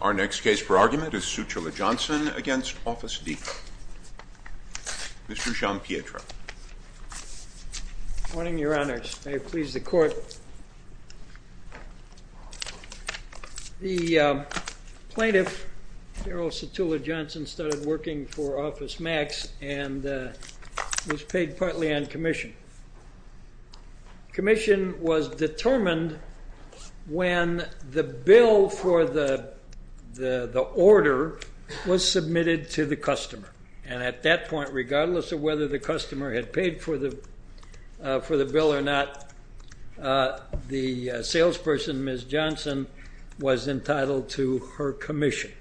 Our next case for argument is Sutula-Johnson v. Office Depot. Mr. Jean-Pietre. Good morning, Your Honors. May it please the Court. The plaintiff, Daryl Sutula-Johnson, started working for Office Max and was paid partly on commission. Commission was determined when the bill for the order was submitted to the customer. And at that point, regardless of whether the customer had paid for the bill or not, the salesperson, Ms. Johnson, was entitled to her commission.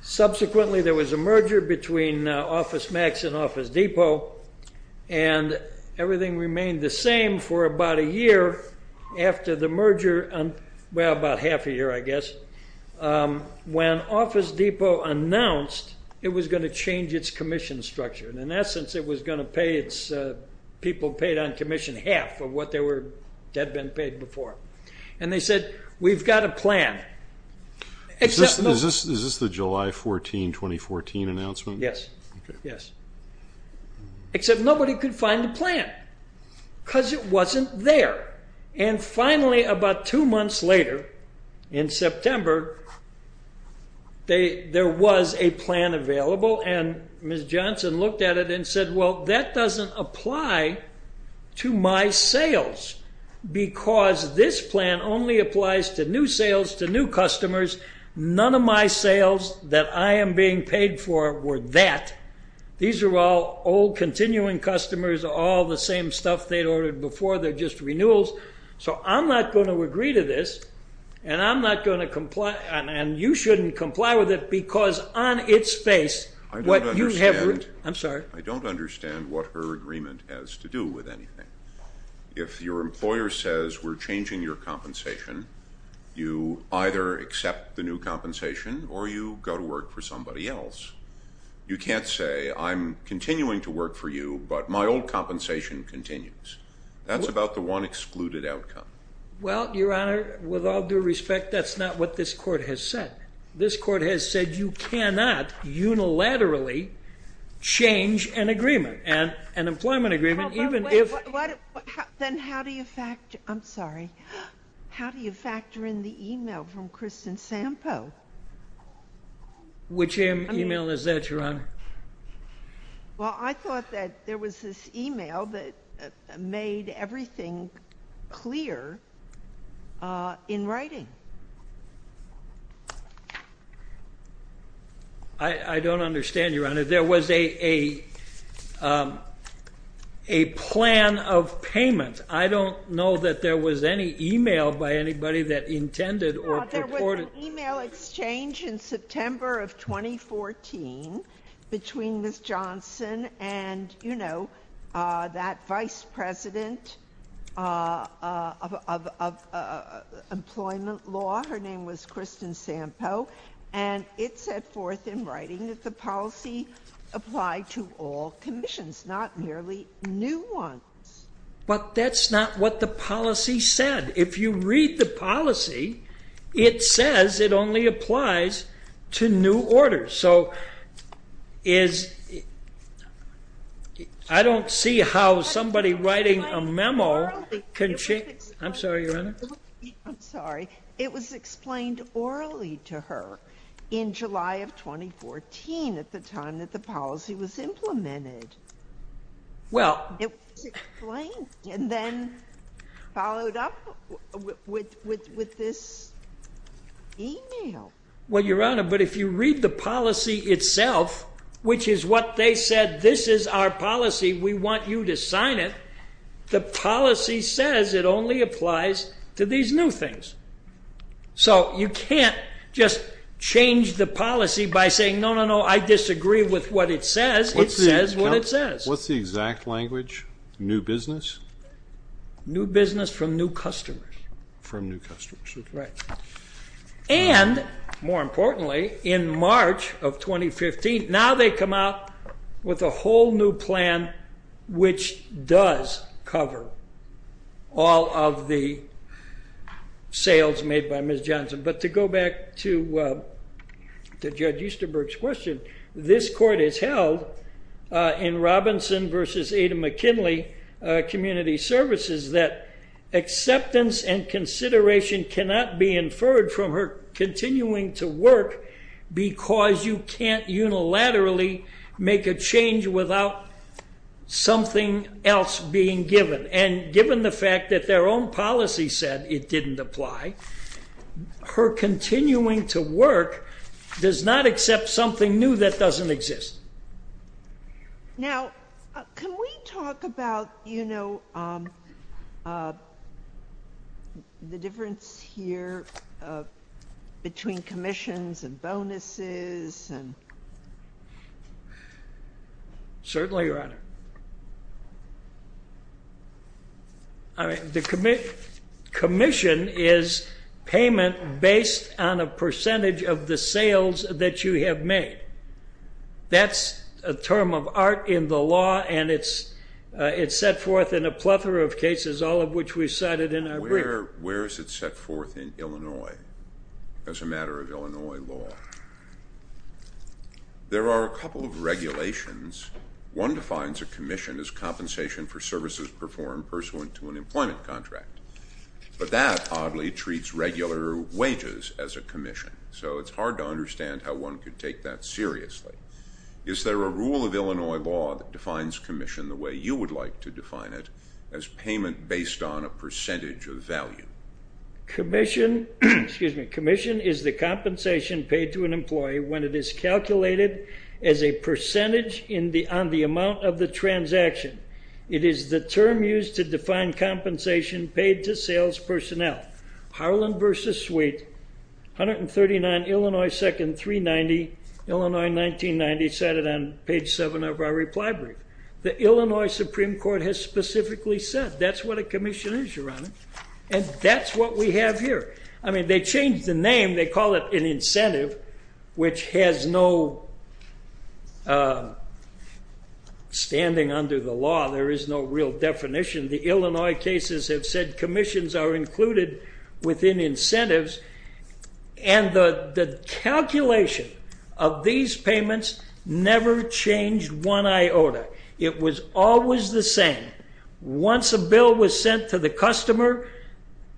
Subsequently, there was a merger between Office Max and Office Depot, and everything remained the same for about a year. After the merger, well, about half a year, I guess, when Office Depot announced it was going to change its commission structure. In essence, it was going to pay its people paid on commission half of what had been paid before. And they said, we've got a plan. Is this the July 14, 2014 announcement? Yes. Yes. Except nobody could find the plan because it wasn't there. And finally, about two months later, in September, there was a plan available, and Ms. Johnson looked at it and said, well, that doesn't apply to my sales because this plan only applies to new sales to new customers. None of my sales that I am being paid for were that. These are all old, continuing customers, all the same stuff they'd ordered before. They're just renewals. So I'm not going to agree to this, and I'm not going to comply, and you shouldn't comply with it because on its face, what you have to do – I don't understand. I'm sorry. I don't understand what her agreement has to do with anything. If your employer says we're changing your compensation, you either accept the new compensation or you go to work for somebody else. You can't say I'm continuing to work for you, but my old compensation continues. That's about the one excluded outcome. Well, Your Honor, with all due respect, that's not what this Court has said. This Court has said you cannot unilaterally change an agreement, an employment agreement, even if – Then how do you factor – I'm sorry. How do you factor in the email from Kristen Sampo? Which email is that, Your Honor? Well, I thought that there was this email that made everything clear in writing. I don't understand, Your Honor. There was a plan of payment. I don't know that there was any email by anybody that intended or purported – Well, there was an email exchange in September of 2014 between Ms. Johnson and, you know, that vice president of employment law. Her name was Kristen Sampo. And it set forth in writing that the policy applied to all commissions, not merely new ones. But that's not what the policy said. If you read the policy, it says it only applies to new orders. So is – I don't see how somebody writing a memo can change – I'm sorry, Your Honor. I'm sorry. It was explained orally to her in July of 2014 at the time that the policy was implemented. Well – It was explained and then followed up with this email. Well, Your Honor, but if you read the policy itself, which is what they said, this is our policy, we want you to sign it, the policy says it only applies to these new things. So you can't just change the policy by saying, no, no, no, I disagree with what it says. It says what it says. What's the exact language? New business? New business from new customers. From new customers. Right. And, more importantly, in March of 2015, now they come out with a whole new plan which does cover all of the sales made by Ms. Johnson. But to go back to Judge Easterberg's question, this court has held in Robinson v. Ada McKinley Community Services that acceptance and consideration cannot be inferred from her continuing to work because you can't unilaterally make a change without something else being given. And given the fact that their own policy said it didn't apply, her continuing to work does not accept something new that doesn't exist. Now, can we talk about, you know, the difference here between commissions and bonuses? Certainly, Your Honor. All right. The commission is payment based on a percentage of the sales that you have made. That's a term of art in the law, and it's set forth in a plethora of cases, all of which we've cited in our brief. Where is it set forth in Illinois as a matter of Illinois law? There are a couple of regulations. One defines a commission as compensation for services performed pursuant to an employment contract. But that oddly treats regular wages as a commission, so it's hard to understand how one could take that seriously. Is there a rule of Illinois law that defines commission the way you would like to define it as payment based on a percentage of value? Commission is the compensation paid to an employee when it is calculated as a percentage on the amount of the transaction. It is the term used to define compensation paid to sales personnel. Harlan versus Sweet, 139, Illinois 2nd, 390, Illinois 1990 cited on page 7 of our reply brief. The Illinois Supreme Court has specifically said that's what a commission is, Your Honor, and that's what we have here. I mean, they changed the name. They call it an incentive, which has no standing under the law. There is no real definition. The Illinois cases have said commissions are included within incentives, and the calculation of these payments never changed one iota. It was always the same. Once a bill was sent to the customer,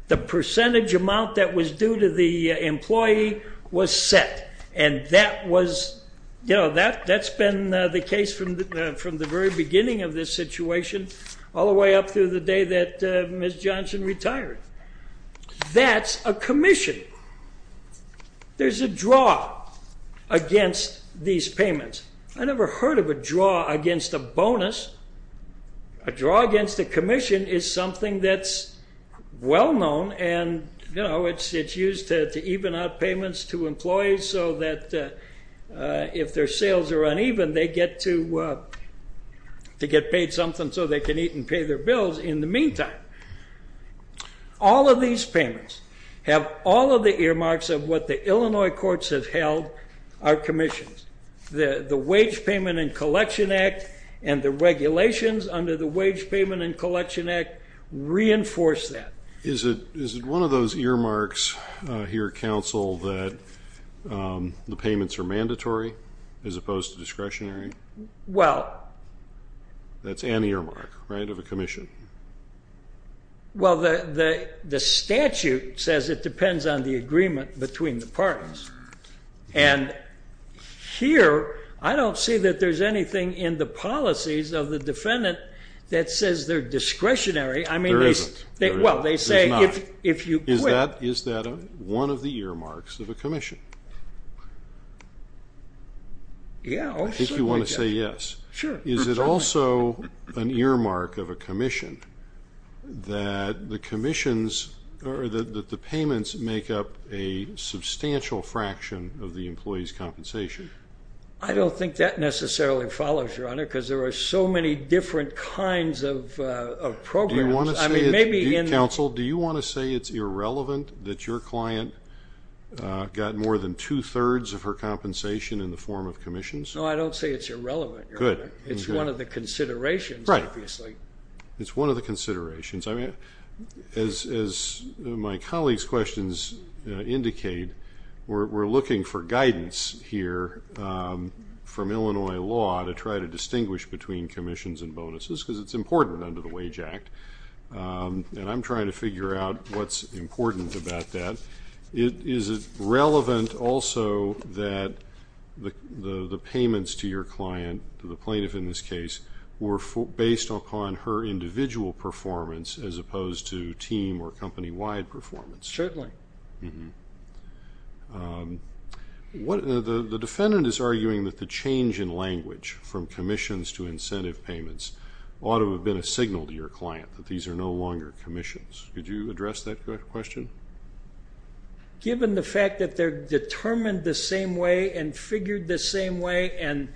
the percentage amount that was due to the employee was set, and that's been the case from the very beginning of this situation all the way up through the day that Ms. Johnson retired. That's a commission. There's a draw against these payments. I never heard of a draw against a bonus. A draw against a commission is something that's well known, and, you know, it's used to even out payments to employees so that if their sales are All of these payments have all of the earmarks of what the Illinois courts have held are commissions. The Wage Payment and Collection Act and the regulations under the Wage Payment and Collection Act reinforce that. Is it one of those earmarks here, Counsel, that the payments are mandatory as opposed to discretionary? Well. That's an earmark, right, of a commission. Well, the statute says it depends on the agreement between the parties, and here I don't see that there's anything in the policies of the defendant that says they're discretionary. There isn't. Well, they say if you quit. Is that one of the earmarks of a commission? Yeah. I think you want to say yes. Sure. Is it also an earmark of a commission that the commissions or that the payments make up a substantial fraction of the employee's compensation? I don't think that necessarily follows, Your Honor, because there are so many different kinds of programs. I mean, maybe in the Counsel, do you want to say it's irrelevant that your client got more than two-thirds of her compensation in the form of commissions? No, I don't say it's irrelevant, Your Honor. Good. It's one of the considerations, obviously. Right. It's one of the considerations. I mean, as my colleague's questions indicate, we're looking for guidance here from Illinois law to try to distinguish between commissions and bonuses because it's important under the Wage Act, and I'm trying to figure out what's important about that. Is it relevant also that the payments to your client, to the plaintiff in this case, were based upon her individual performance as opposed to team or company-wide performance? Certainly. The defendant is arguing that the change in language from commissions to incentive payments ought to have been a signal to your client that these are no longer commissions. Could you address that question? Given the fact that they're determined the same way and figured the same way and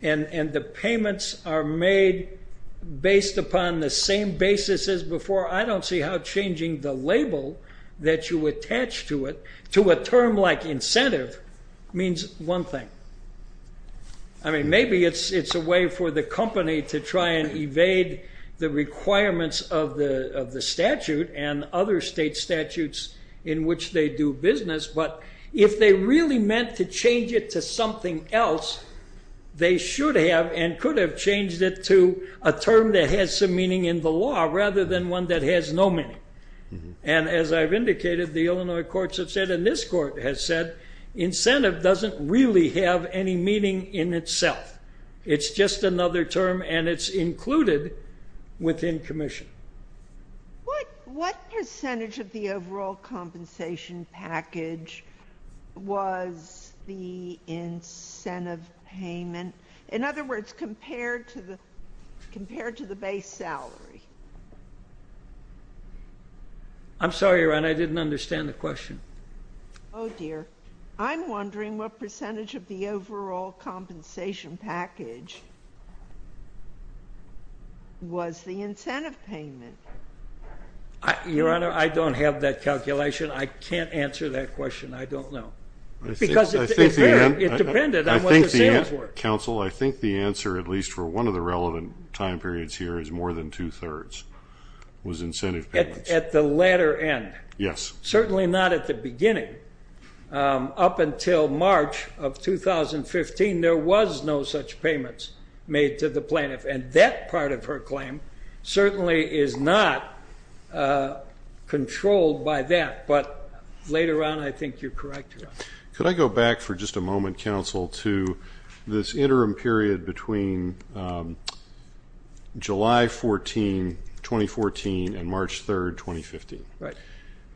the payments are made based upon the same basis as before, I don't see how changing the label that you attach to it, to a term like incentive, means one thing. I mean, maybe it's a way for the company to try and evade the requirements of the statute and other state statutes in which they do business, but if they really meant to change it to something else, they should have and could have changed it to a term that has some meaning in the law rather than one that has no meaning. And as I've indicated, the Illinois courts have said and this court has said, incentive doesn't really have any meaning in itself. It's just another term and it's included within commission. What percentage of the overall compensation package was the incentive payment? In other words, compared to the base salary? I'm sorry, Your Honor, I didn't understand the question. Oh, dear. I'm wondering what percentage of the overall compensation package was the incentive payment. Your Honor, I don't have that calculation. I can't answer that question. I don't know. Because it depended on what the sales were. Counsel, I think the answer, at least for one of the relevant time periods here, is more than two-thirds was incentive payments. At the latter end? Yes. Certainly not at the beginning. Up until March of 2015, there was no such payments made to the plaintiff, and that part of her claim certainly is not controlled by that. But later on I think you're correct, Your Honor. to this interim period between July 14, 2014, and March 3, 2015. Right.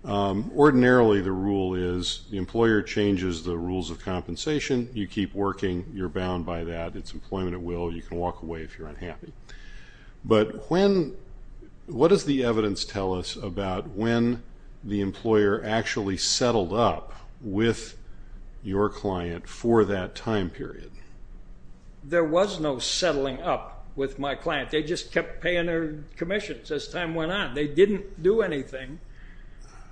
Ordinarily the rule is the employer changes the rules of compensation, you keep working, you're bound by that, it's employment at will, you can walk away if you're unhappy. But what does the evidence tell us about when the employer actually settled up with your client for that time period? There was no settling up with my client. They just kept paying their commissions as time went on. They didn't do anything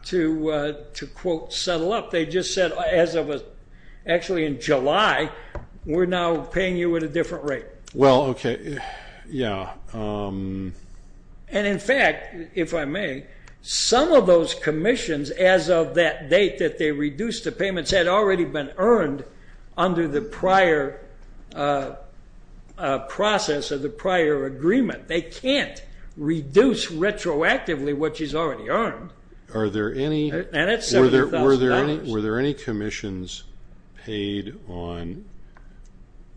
to, quote, settle up. They just said, actually in July, we're now paying you at a different rate. Well, okay, yeah. And, in fact, if I may, some of those commissions as of that date that they reduced the payments had already been earned under the prior process or the prior agreement. They can't reduce retroactively what she's already earned. And it's $70,000. Were there any commissions paid on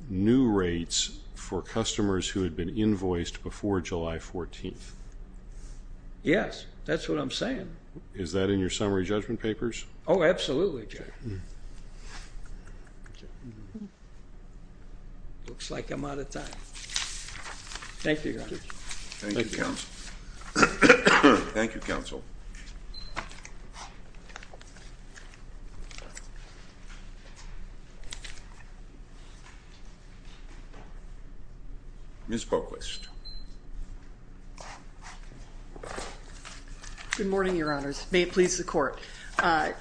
new rates for customers who had been invoiced before July 14th? Yes, that's what I'm saying. Is that in your summary judgment papers? Oh, absolutely. Looks like I'm out of time. Thank you, Your Honor. Thank you, Counsel. Thank you, Counsel. Thank you. Ms. Poquist. Good morning, Your Honors. May it please the Court. At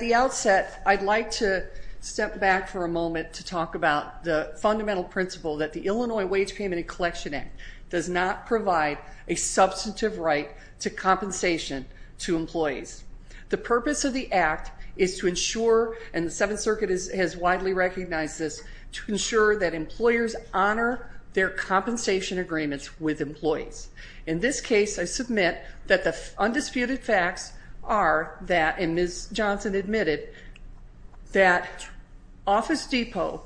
the outset, I'd like to step back for a moment to talk about the fundamental principle that the Illinois Wage Payment and Collection Act does not provide a substantive right to compensation to employees. The purpose of the act is to ensure, and the Seventh Circuit has widely recognized this, to ensure that employers honor their compensation agreements with employees. In this case, I submit that the undisputed facts are that, and Ms. Johnson admitted, that Office Depot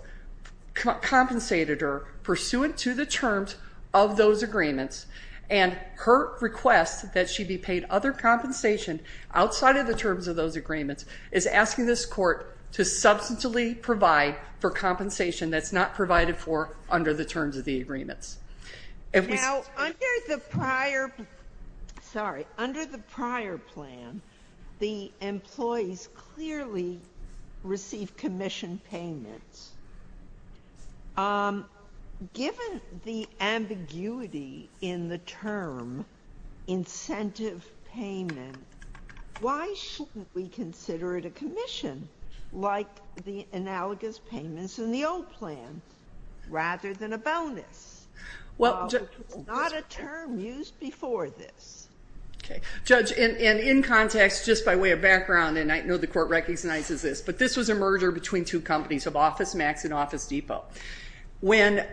compensated her pursuant to the terms of those agreements and her request that she be paid other compensation outside of the terms of those agreements is asking this Court to substantively provide for compensation that's not provided for under the terms of the agreements. Now, under the prior, sorry, under the prior plan, the employees clearly received commission payments. Given the ambiguity in the term incentive payment, why shouldn't we consider it a commission, like the analogous payments in the old plan, rather than a bonus? It's not a term used before this. Okay. Judge, and in context, just by way of background, and I know the Court recognizes this, but this was a merger between two companies of Office Max and Office Depot. When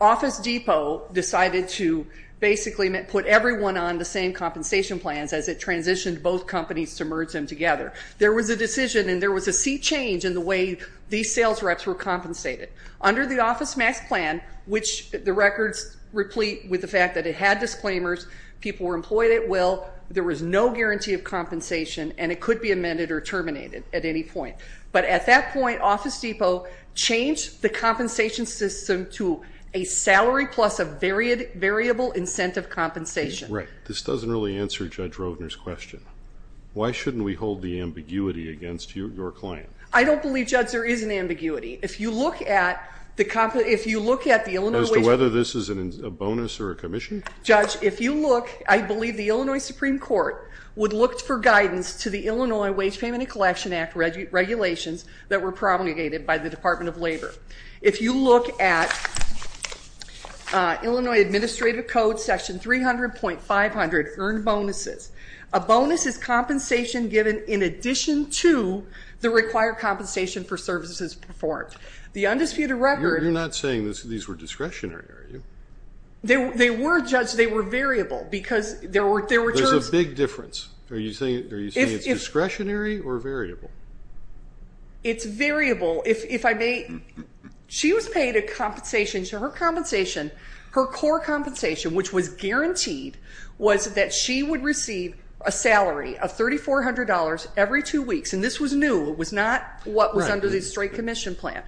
Office Depot decided to basically put everyone on the same compensation plans as it transitioned both companies to merge them together, there was a decision and there was a seat change in the way these sales reps were compensated. Under the Office Max plan, which the records replete with the fact that it had disclaimers, people were employed at will, there was no guarantee of compensation, and it could be amended or terminated at any point. But at that point, Office Depot changed the compensation system to a salary plus a variable incentive compensation. Right. This doesn't really answer Judge Roedner's question. Why shouldn't we hold the ambiguity against your client? I don't believe, Judge, there is an ambiguity. If you look at the Illinois Supreme Court... As to whether this is a bonus or a commission? Judge, if you look, I believe the Illinois Supreme Court would look for guidance to the Illinois Wage Payment and Collection Act regulations that were promulgated by the Department of Labor. If you look at Illinois Administrative Code, Section 300.500, Earned Bonuses, a bonus is compensation given in addition to the required compensation for services performed. The undisputed record... You're not saying these were discretionary, are you? They were, Judge. They were variable because there were terms... There's a big difference. Are you saying it's discretionary or variable? It's variable. She was paid a compensation. Her compensation, her core compensation, which was guaranteed, was that she would receive a salary of $3,400 every two weeks. And this was new. It was not what was under the straight commission plan.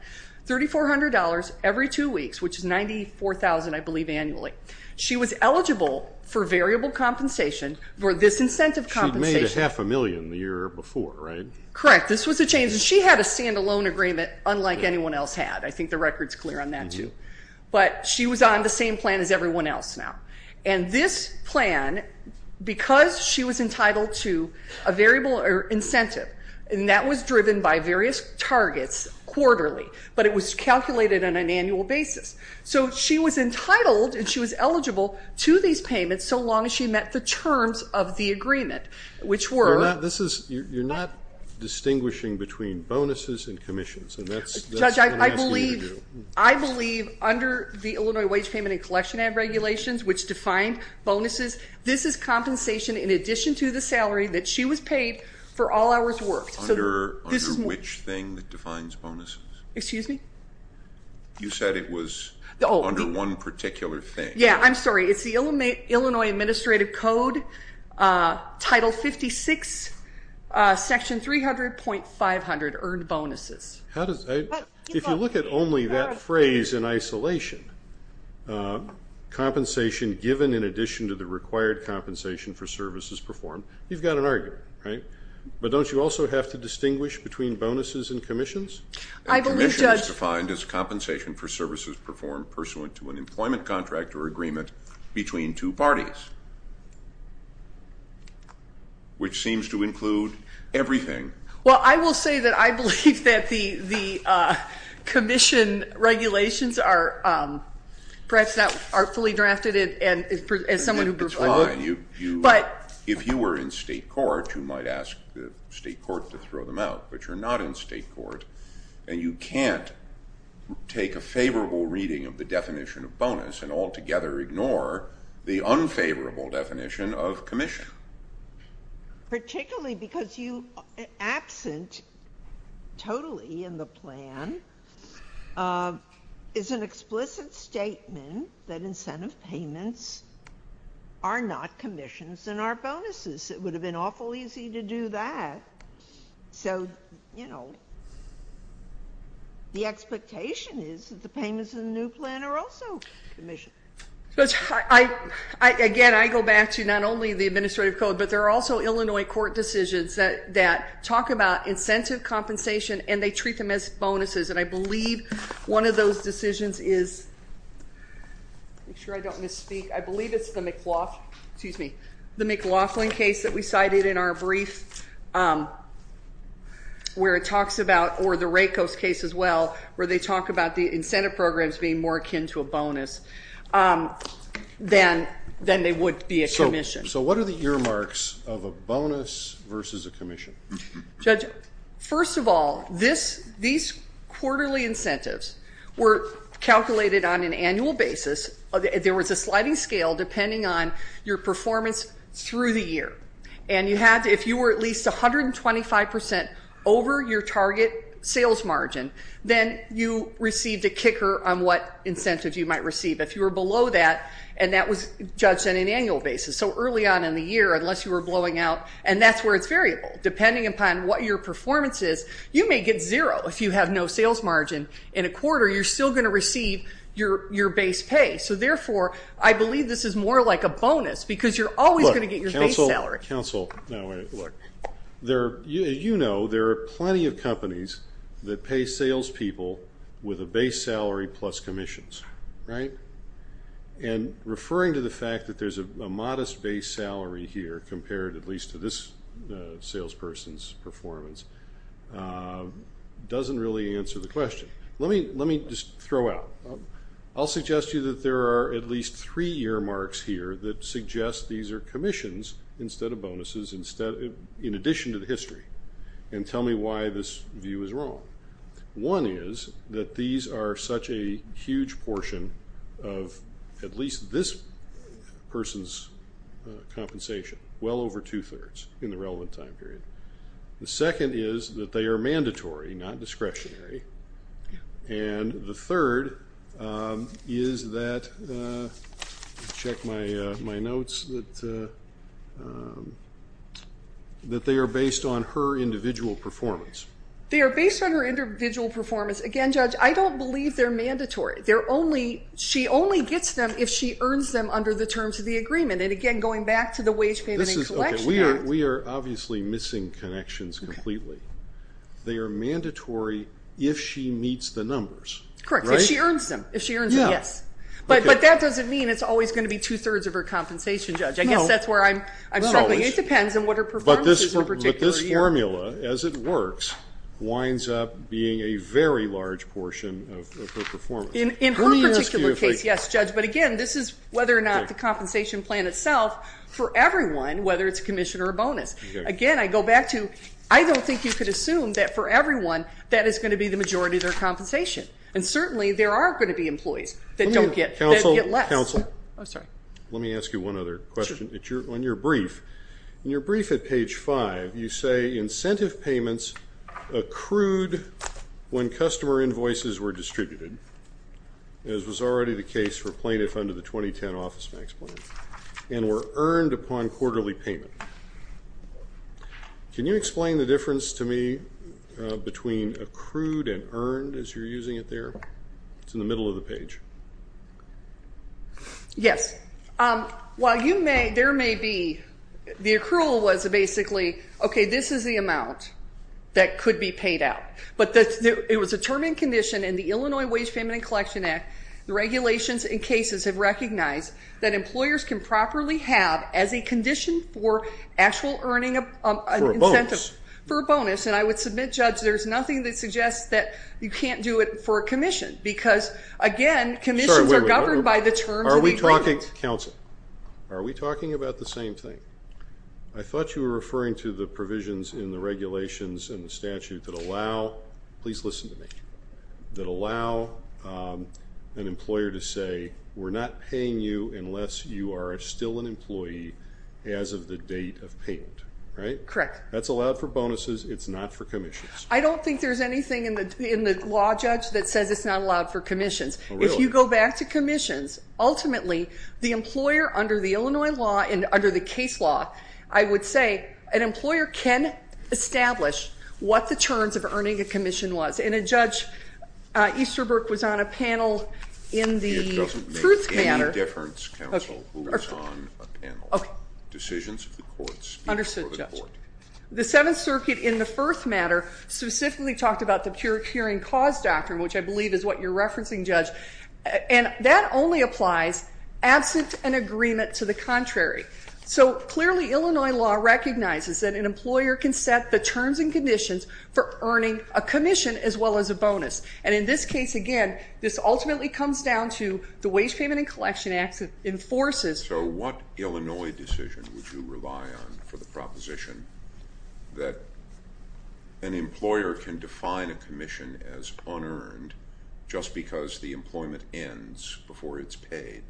$3,400 every two weeks, which is $94,000, I believe, annually. She was eligible for variable compensation for this incentive compensation. She'd made a half a million the year before, right? Correct. This was a change. She had a stand-alone agreement unlike anyone else had. I think the record's clear on that, too. But she was on the same plan as everyone else now. And this plan, because she was entitled to a variable incentive, and that was driven by various targets quarterly, but it was calculated on an annual basis. So she was entitled and she was eligible to these payments so long as she met the terms of the agreement, which were. You're not distinguishing between bonuses and commissions, and that's what I'm asking you to do. Judge, I believe under the Illinois Wage Payment and Collection Act regulations, which define bonuses, this is compensation in addition to the salary that she was paid for all hours worked. Under which thing that defines bonuses? Excuse me? You said it was under one particular thing. Yeah, I'm sorry. It's the Illinois Administrative Code, Title 56, Section 300.500, earned bonuses. If you look at only that phrase in isolation, compensation given in addition to the required compensation for services performed, you've got an argument, right? But don't you also have to distinguish between bonuses and commissions? I believe, Judge. Commissions defined as compensation for services performed pursuant to an employment contract or agreement between two parties, which seems to include everything. Well, I will say that I believe that the commission regulations are perhaps not fully drafted, and as someone who. That's fine. If you were in state court, you might ask the state court to throw them out, but you're not in state court, and you can't take a favorable reading of the definition of bonus and altogether ignore the unfavorable definition of commission. Particularly because you, absent totally in the plan, is an explicit statement that incentive payments are not commissions and are bonuses. It would have been awful easy to do that. So, you know, the expectation is that the payments in the new plan are also commissions. Again, I go back to not only the administrative code, but there are also Illinois court decisions that talk about incentive compensation, and they treat them as bonuses, and I believe one of those decisions is, make sure I don't misspeak, I believe it's the McLaughlin case that we cited in our brief where it talks about, or the Rakos case as well, where they talk about the incentive programs being more akin to a bonus than they would be a commission. So what are the earmarks of a bonus versus a commission? Judge, first of all, these quarterly incentives were calculated on an annual basis. There was a sliding scale depending on your performance through the year, and you had to, if you were at least 125% over your target sales margin, then you received a kicker on what incentive you might receive. If you were below that, and that was judged on an annual basis, so early on in the year unless you were blowing out, and that's where it's variable. Depending upon what your performance is, you may get zero. If you have no sales margin in a quarter, you're still going to receive your base pay. So, therefore, I believe this is more like a bonus because you're always going to get your base salary. Counsel, you know there are plenty of companies that pay salespeople with a base salary plus commissions, right? And referring to the fact that there's a modest base salary here compared at least to this salesperson's performance doesn't really answer the question. Let me just throw out. I'll suggest to you that there are at least three earmarks here that suggest these are commissions instead of bonuses, in addition to the history, and tell me why this view is wrong. One is that these are such a huge portion of at least this person's compensation, well over two-thirds in the relevant time period. The second is that they are mandatory, not discretionary. And the third is that they are based on her individual performance. They are based on her individual performance. Again, Judge, I don't believe they're mandatory. She only gets them if she earns them under the terms of the agreement. And, again, going back to the Wage, Payment, and Collection Act. We are obviously missing connections completely. They are mandatory if she meets the numbers. Correct. If she earns them. If she earns them, yes. But that doesn't mean it's always going to be two-thirds of her compensation, Judge. I guess that's where I'm struggling. It depends on what her performance is in a particular year. But this formula, as it works, winds up being a very large portion of her performance. In her particular case, yes, Judge. But, again, this is whether or not the compensation plan itself for everyone, whether it's a commission or a bonus. Again, I go back to I don't think you could assume that for everyone that is going to be the majority of their compensation. And, certainly, there are going to be employees that don't get less. Counsel. Oh, sorry. Let me ask you one other question. Sure. On your brief, in your brief at page 5, you say incentive payments accrued when customer invoices were distributed, as was already the case for plaintiff under the 2010 Office Max plan, and were earned upon quarterly payment. Can you explain the difference to me between accrued and earned as you're using it there? It's in the middle of the page. Yes. While you may, there may be, the accrual was basically, okay, this is the amount that could be paid out. But it was a term and condition in the Illinois Wage Payment and Collection Act. The regulations in cases have recognized that employers can properly have as a condition for actual earning an incentive. For a bonus. For a bonus. And I would submit, Judge, there's nothing that suggests that you can't do it for a commission. Because, again, commissions are governed by the terms of the agreement. Are we talking, counsel, are we talking about the same thing? I thought you were referring to the provisions in the regulations and the statute that allow, please listen to me, that allow an employer to say, we're not paying you unless you are still an employee as of the date of payment. Right? Correct. That's allowed for bonuses. It's not for commissions. I don't think there's anything in the law, Judge, that says it's not allowed for commissions. Oh, really? If you go back to commissions, ultimately, the employer under the Illinois law and under the case law, I would say an employer can establish what the terms of earning a commission was. And Judge Easterbrook was on a panel in the truth matter. It doesn't make any difference, counsel, who was on a panel. Decisions of the court speak for the court. Understood, Judge. The Seventh Circuit in the first matter specifically talked about the pure hearing cause doctrine, which I believe is what you're referencing, Judge. And that only applies absent an agreement to the contrary. So, clearly, Illinois law recognizes that an employer can set the terms and conditions for earning a commission as well as a bonus. And in this case, again, this ultimately comes down to the Wage Payment and Collection Act enforces. So what Illinois decision would you rely on for the proposition that an employer can define a commission as unearned just because the employment ends before it's paid?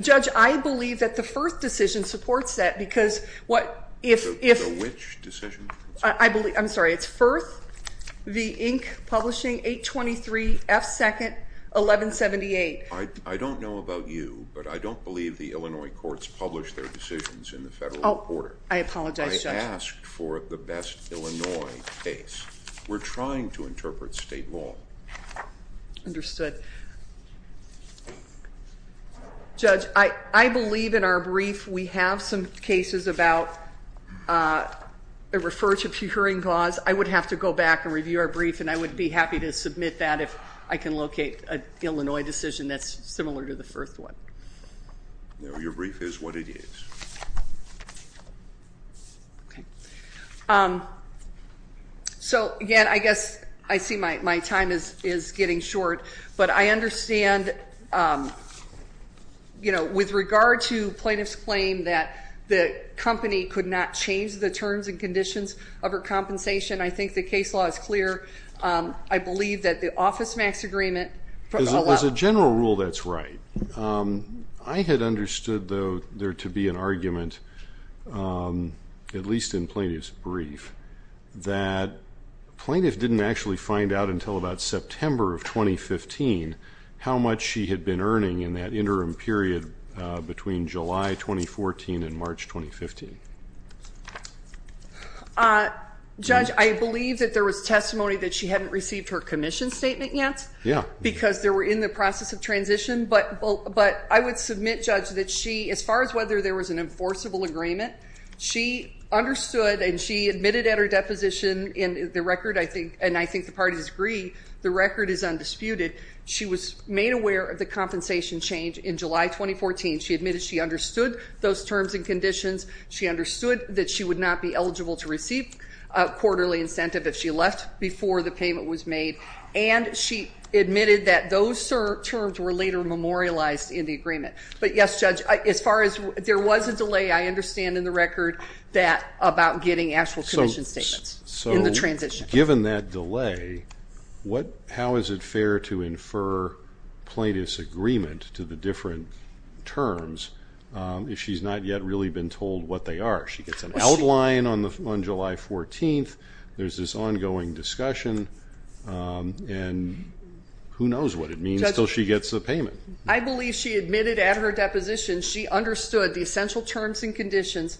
Judge, I believe that the Firth decision supports that because what if- The which decision? I'm sorry. It's Firth v. Inc. Publishing, 823 F. 2nd, 1178. I don't know about you, but I don't believe the Illinois courts publish their decisions in the Federal Reporter. I apologize, Judge. I asked for the best Illinois case. We're trying to interpret state law. Understood. Judge, I believe in our brief we have some cases about a referred to pure hearing cause. I would have to go back and review our brief, and I would be happy to submit that if I can locate an Illinois decision that's similar to the Firth one. No, your brief is what it is. Okay. So, again, I guess I see my time is getting short. But I understand, you know, with regard to plaintiff's claim that the company could not change the terms and conditions of her compensation, I think the case law is clear. I believe that the Office Max agreement- As a general rule, that's right. I had understood, though, there to be an argument, at least in plaintiff's brief, that plaintiff didn't actually find out until about September of 2015 how much she had been earning in that interim period between July 2014 and March 2015. Judge, I believe that there was testimony that she hadn't received her commission statement yet because they were in the process of transition. But I would submit, Judge, that she, as far as whether there was an enforceable agreement, she understood and she admitted at her deposition in the record, and I think the parties agree, the record is undisputed. She was made aware of the compensation change in July 2014. She admitted she understood those terms and conditions. She understood that she would not be eligible to receive quarterly incentive if she left before the payment was made. And she admitted that those terms were later memorialized in the agreement. But, yes, Judge, as far as there was a delay, I understand in the record that about getting actual commission statements in the transition. Given that delay, how is it fair to infer plaintiff's agreement to the different terms if she's not yet really been told what they are? She gets an outline on July 14th. There's this ongoing discussion, and who knows what it means until she gets the payment. I believe she admitted at her deposition she understood the essential terms and conditions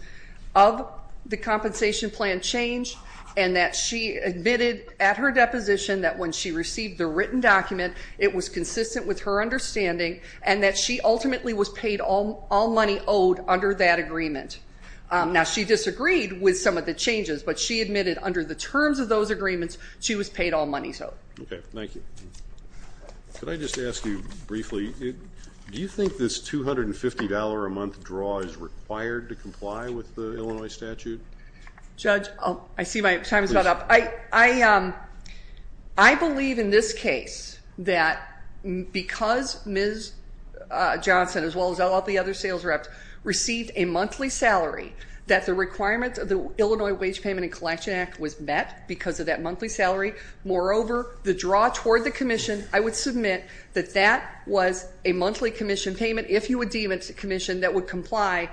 of the compensation plan change and that she admitted at her deposition that when she received the written document, it was consistent with her understanding and that she ultimately was paid all money owed under that agreement. Now, she disagreed with some of the changes, but she admitted under the terms of those agreements, she was paid all money owed. Okay, thank you. Could I just ask you briefly, do you think this $250 a month draw is required to comply with the Illinois statute? Judge, I see my time is about up. I believe in this case that because Ms. Johnson, as well as all the other sales reps, received a monthly salary, that the requirements of the Illinois Wage Payment and Collection Act was met because of that monthly salary. Moreover, the draw toward the commission, I would submit that that was a monthly commission payment, if you would deem it a commission that would comply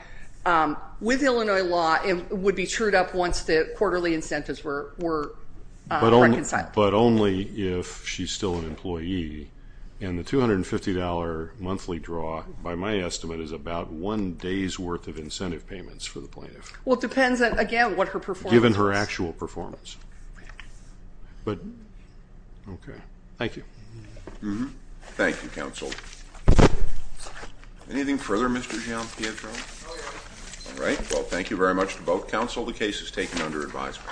with Illinois law and would be cheered up once the quarterly incentives were reconciled. But only if she's still an employee, and the $250 monthly draw, by my estimate, is about one day's worth of incentive payments for the plaintiff. Well, it depends, again, on what her performance is. But, okay, thank you. Thank you, counsel. Anything further, Mr. Gianpietro? No, Your Honor. All right, well, thank you very much to both counsel. The case is taken under advisement.